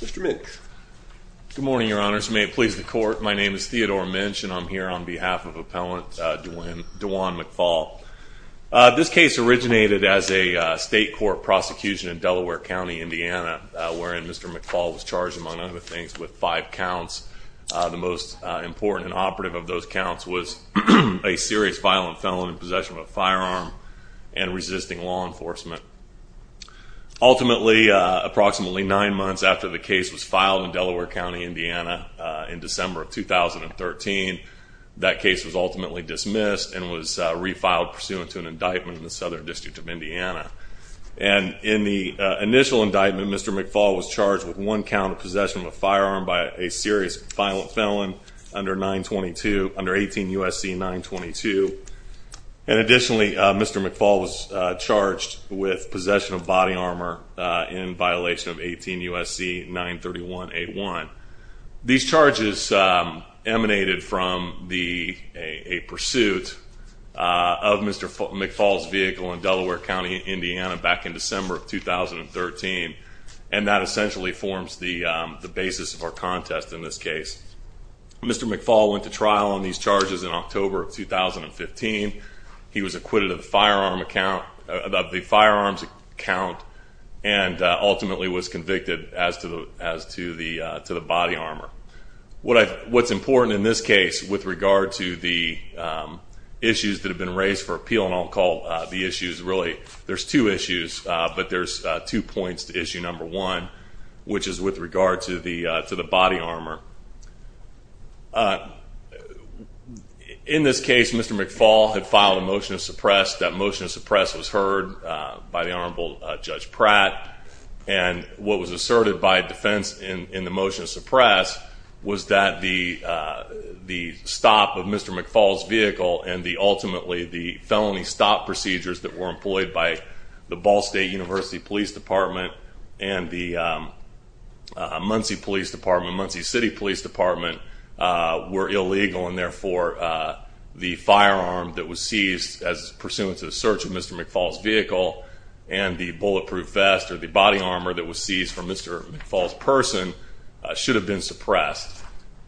Mr. Minch. Good morning, Your Honors. May it please the Court, my name is Theodore Minch and I'm here on behalf of Appellant Djuane McPhaul. This case originated as a state court prosecution in Delaware County, Indiana, wherein Mr. McPhaul was charged, among other things, with five counts. The most important and operative of those counts was a serious violent felon in possession of a firearm and resisting law enforcement. Ultimately, approximately nine months after the case was filed in Delaware County, Indiana, in December of 2013, that case was ultimately dismissed and was refiled pursuant to an indictment in the Southern District of Indiana. In the initial indictment, Mr. McPhaul was charged with one count of possession of a firearm by a serious violent felon under 18 U.S.C. 922. Additionally, Mr. McPhaul was charged with possession of body armor in violation of 18 U.S.C. 931-81. These charges emanated from a pursuit of Mr. McPhaul's vehicle in Delaware County, Indiana, back in December of 2013, and that essentially forms the basis of our contest in this case. Mr. McPhaul went to trial on these charges in October of 2015. He was acquitted of the firearms count and ultimately was convicted as to the body armor. What's important in this case with regard to the issues that have been raised for appeal, and I'll call the issues, really, there's two issues, but there's two points to issue number one, which is with regard to the body armor. In this case, Mr. McPhaul had filed a motion to suppress. That motion to suppress was heard by the Honorable Judge Pratt, and what was asserted by defense in the motion to suppress was that the stop of Mr. McPhaul's vehicle and ultimately the felony stop procedures that were employed by the Ball State University Police Department and the Muncie Police Department, Muncie City Police Department, were illegal, and therefore the firearm that was seized as pursuant to the search of Mr. McPhaul's vehicle and the bulletproof vest or the body armor that was seized from Mr. McPhaul's person should have been suppressed.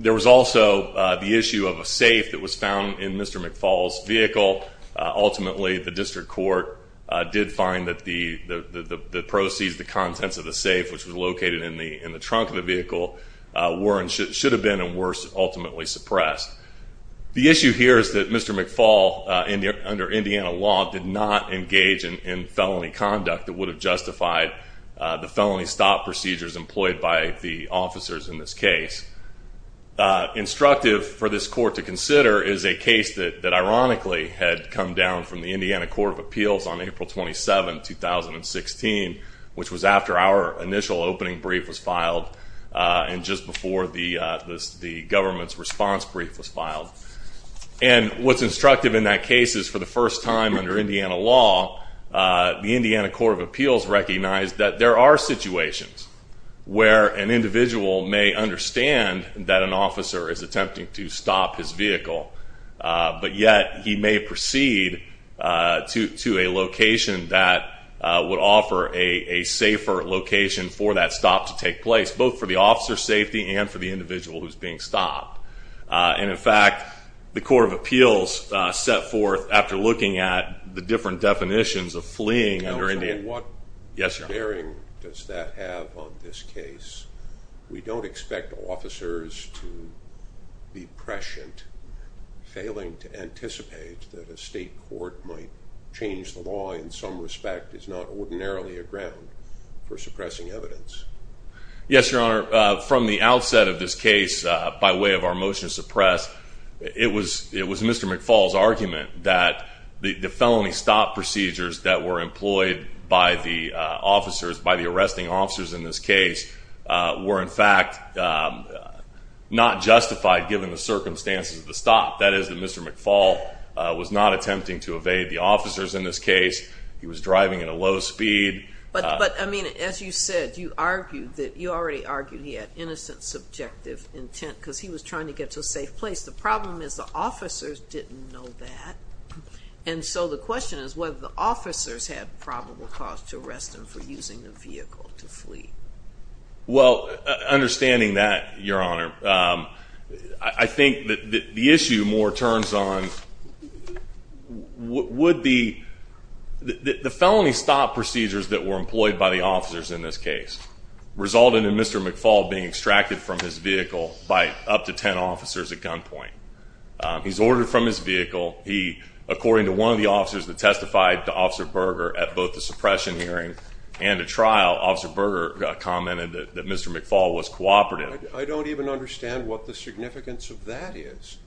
There was also the issue of a safe that was found in Mr. McPhaul's vehicle. Ultimately, the district court did find that the proceeds, the contents of the safe, which was located in the trunk of the vehicle, should have been and were ultimately suppressed. The issue here is that Mr. McPhaul, under Indiana law, did not engage in felony conduct that would have justified the felony stop procedures employed by the officers in this case. Instructive for this court to consider is a case that ironically had come down from the Indiana Court of Appeals on April 27, 2016, which was after our initial opening brief was filed and just before the government's response brief was filed. And what's instructive in that case is for the first time under Indiana law, the Indiana Court of Appeals recognized that there are situations where an individual may understand that an officer is attempting to stop his vehicle, but yet he may proceed to a location that would offer a safer location for that stop to take place, both for the officer's safety and for the individual who's being stopped. And, in fact, the Court of Appeals set forth, after looking at the different definitions of fleeing under Indiana... How bearing does that have on this case? We don't expect officers to be prescient. Failing to anticipate that a state court might change the law in some respect is not ordinarily a ground for suppressing evidence. Yes, Your Honor, from the outset of this case, by way of our motion to suppress, it was Mr. McFaul's argument that the felony stop procedures that were employed by the officers, by the arresting officers in this case, were, in fact, not justified given the circumstances of the stop. That is, that Mr. McFaul was not attempting to evade the officers in this case. He was driving at a low speed. But, I mean, as you said, you argued that... The problem is the officers didn't know that. And so the question is whether the officers had probable cause to arrest him for using the vehicle to flee. Well, understanding that, Your Honor, I think that the issue more turns on... Would the felony stop procedures that were employed by the officers in this case result in Mr. McFaul being extracted from his vehicle by up to 10 officers at gunpoint? He's ordered from his vehicle. According to one of the officers that testified to Officer Berger at both the suppression hearing and the trial, Officer Berger commented that Mr. McFaul was cooperative. I don't even understand what the significance of that is.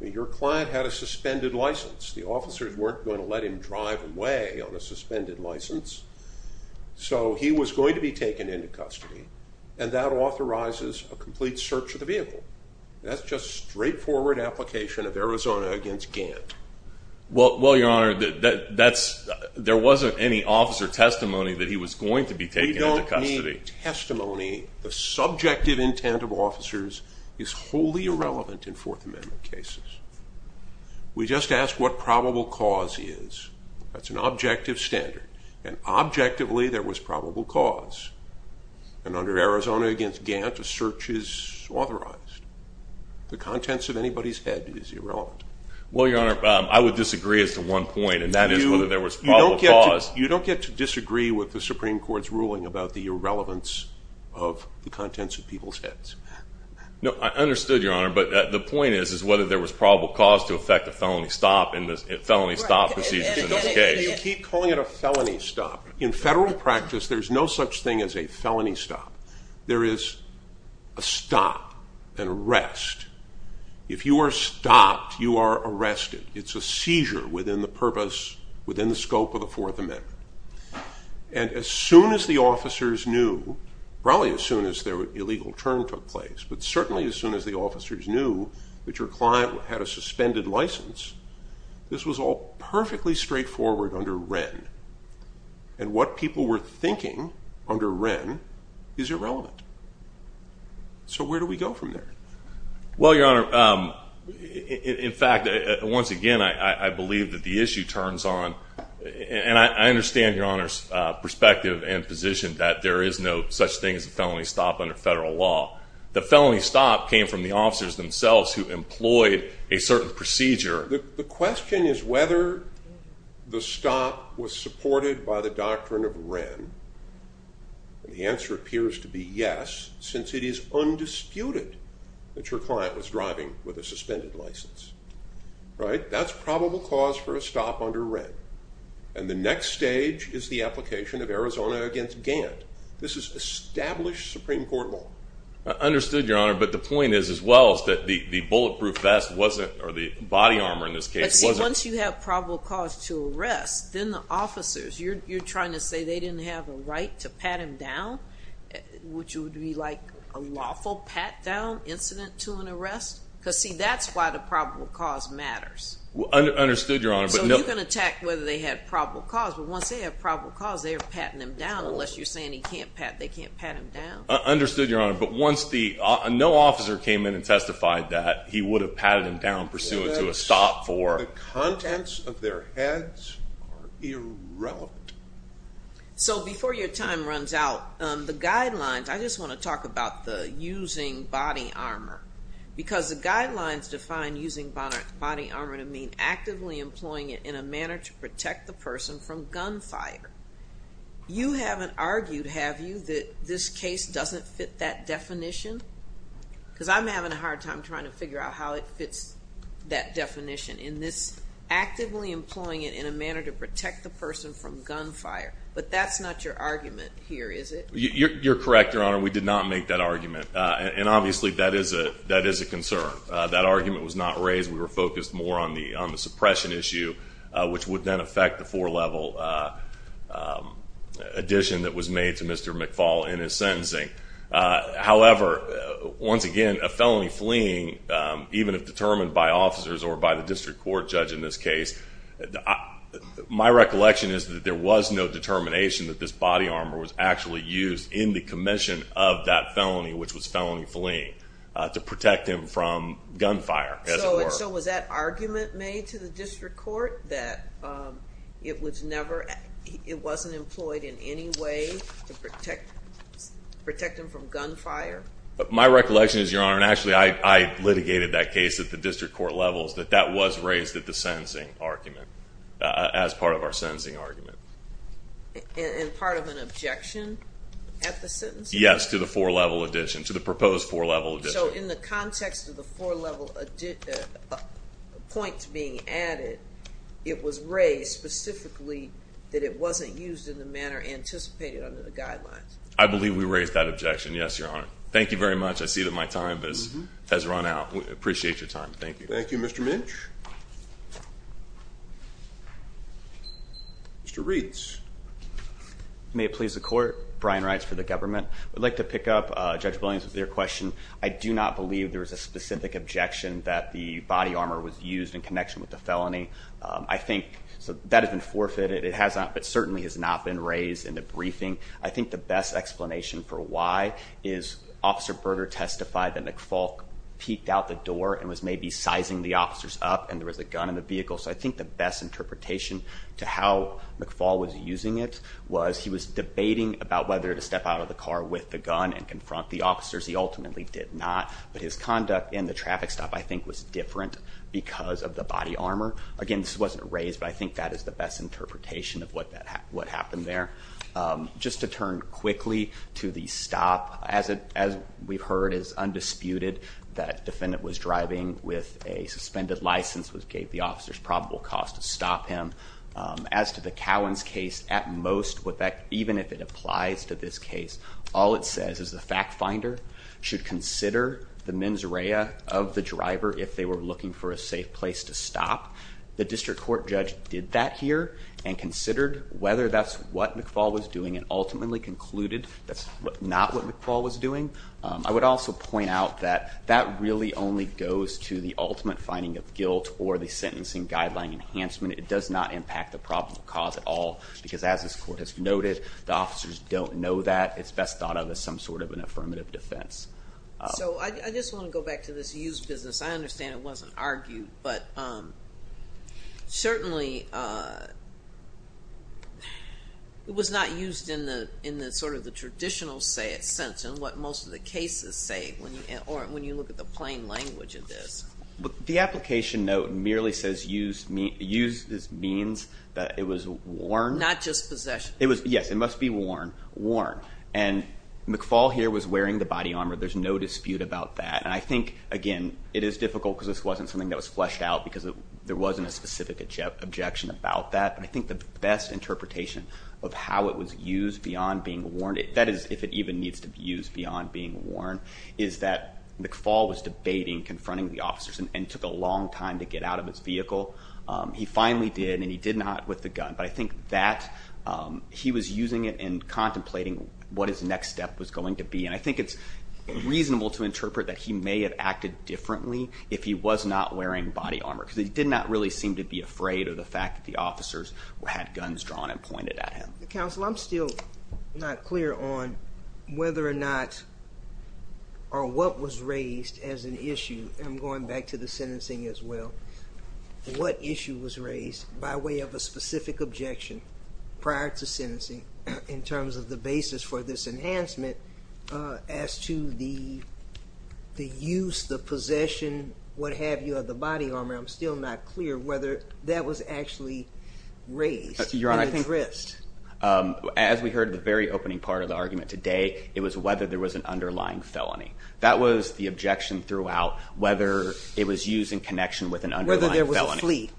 Your client had a suspended license. The officers weren't going to let him drive away on a suspended license. So he was going to be taken into custody, and that authorizes a complete search of the vehicle. That's just a straightforward application of Arizona against Gant. Well, Your Honor, there wasn't any officer testimony that he was going to be taken into custody. We don't need testimony. The subjective intent of officers is wholly irrelevant in Fourth Amendment cases. We just ask what probable cause is. That's an objective standard. And objectively, there was probable cause. And under Arizona against Gant, a search is authorized. The contents of anybody's head is irrelevant. Well, Your Honor, I would disagree as to one point, and that is whether there was probable cause. You don't get to disagree with the Supreme Court's ruling about the irrelevance of the contents of people's heads. No, I understood, Your Honor. But the point is whether there was probable cause to effect a felony stop in this felony stop procedure in this case. You keep calling it a felony stop. In federal practice, there's no such thing as a felony stop. There is a stop and a rest. If you are stopped, you are arrested. It's a seizure within the purpose, within the scope of the Fourth Amendment. And as soon as the officers knew, probably as soon as their illegal turn took place, but certainly as soon as the officers knew that your client had a suspended license, this was all perfectly straightforward under Wren. And what people were thinking under Wren is irrelevant. So where do we go from there? Well, Your Honor, in fact, once again, I believe that the issue turns on, and I understand Your Honor's perspective and position that there is no such thing as a felony stop under federal law. The felony stop came from the officers themselves who employed a certain procedure. The question is whether the stop was supported by the doctrine of Wren. And the answer appears to be yes, since it is undisputed that your client was driving with a suspended license. That's probable cause for a stop under Wren. And the next stage is the application of Arizona against Gantt. This is established Supreme Court law. I understood, Your Honor. But the point is as well is that the bulletproof vest wasn't, or the body armor in this case wasn't. But see, once you have probable cause to arrest, then the officers, you're trying to say they didn't have a right to pat him down? Would you be like a lawful pat-down incident to an arrest? Because, see, that's why the probable cause matters. Understood, Your Honor. So you can attack whether they had probable cause, but once they have probable cause they're patting him down unless you're saying he can't pat, they can't pat him down. Understood, Your Honor. But once the, no officer came in and testified that he would have patted him down pursuant to a stop for. The contents of their heads are irrelevant. So before your time runs out, the guidelines, I just want to talk about the using body armor. Because the guidelines define using body armor to mean actively employing it in a manner to protect the person from gunfire. You haven't argued, have you, that this case doesn't fit that definition? Because I'm having a hard time trying to figure out how it fits that definition in this actively employing it in a manner to protect the person from gunfire. But that's not your argument here, is it? You're correct, Your Honor. We did not make that argument. And obviously that is a concern. That argument was not raised. We were focused more on the suppression issue, which would then affect the four-level addition that was made to Mr. McFaul in his sentencing. However, once again, a felony fleeing, even if determined by officers or by the district court judge in this case, my recollection is that there was no determination that this body armor was actually used in the commission of that felony, which was felony fleeing, to protect him from gunfire, as it were. So was that argument made to the district court that it wasn't employed in any way to protect him from gunfire? My recollection is, Your Honor, and actually I litigated that case at the district court levels, that that was raised at the sentencing argument, as part of our sentencing argument. And part of an objection at the sentencing? Yes, to the four-level addition, to the proposed four-level addition. So in the context of the four-level points being added, it was raised specifically that it wasn't used in the manner anticipated under the guidelines? I believe we raised that objection, yes, Your Honor. Thank you very much. I see that my time has run out. I appreciate your time. Thank you. Thank you, Mr. Minch. Mr. Reeds. May it please the court? Brian Reitz for the government. I'd like to pick up Judge Williams with your question. I do not believe there was a specific objection that the body armor was used in connection with the felony. I think that has been forfeited. It certainly has not been raised in the briefing. I think the best explanation for why is Officer Berger testified that McFaul peeked out the door and was maybe sizing the officers up, and there was a gun in the vehicle. So I think the best interpretation to how McFaul was using it was he was debating about whether to step out of the car with the gun and confront the officers. He ultimately did not. But his conduct in the traffic stop, I think, was different because of the body armor. Again, this wasn't raised, but I think that is the best interpretation of what happened there. Just to turn quickly to the stop. As we've heard, it is undisputed that the defendant was driving with a suspended license, which gave the officers probable cause to stop him. As to the Cowan's case, at most, even if it applies to this case, all it says is the fact finder should consider the mens rea of the driver if they were looking for a safe place to stop. The district court judge did that here and considered whether that's what McFaul was doing and ultimately concluded that's not what McFaul was doing. I would also point out that that really only goes to the ultimate finding of guilt or the sentencing guideline enhancement. It does not impact the probable cause at all because, as this court has noted, the officers don't know that. It's best thought of as some sort of an affirmative defense. I just want to go back to this used business. I understand it wasn't argued, but certainly it was not used in the traditional sense in what most of the cases say when you look at the plain language of this. The application note merely says used means that it was worn. Not just possession. Yes, it must be worn. And McFaul here was wearing the body armor. There's no dispute about that. And I think, again, it is difficult because this wasn't something that was fleshed out because there wasn't a specific objection about that. But I think the best interpretation of how it was used beyond being worn, that is if it even needs to be used beyond being worn, is that McFaul was debating confronting the officers and took a long time to get out of his vehicle. He finally did, and he did not with the gun. But I think that he was using it and contemplating what his next step was going to be. And I think it's reasonable to interpret that he may have acted differently if he was not wearing body armor. Because he did not really seem to be afraid of the fact that the officers had guns drawn and pointed at him. Counsel, I'm still not clear on whether or not or what was raised as an issue. And I'm going back to the sentencing as well. What issue was raised by way of a specific objection prior to sentencing in terms of the basis for this enhancement as to the use, the possession, what have you of the body armor? I'm still not clear whether that was actually raised. Your Honor, as we heard at the very opening part of the argument today, it was whether there was an underlying felony. That was the objection throughout, whether it was used in connection with an underlying felony. Whether there was a flee.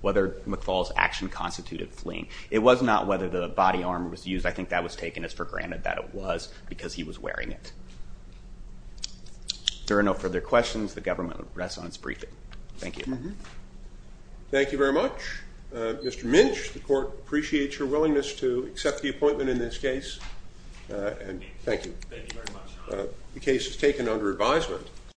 Whether McFaul's action constituted fleeing. It was not whether the body armor was used. I think that was taken as for granted that it was because he was wearing it. If there are no further questions, the government rests on its briefing. Thank you. Thank you very much. Mr. Minch, the court appreciates your willingness to accept the appointment in this case. And thank you. Thank you very much. The case is taken under advisement.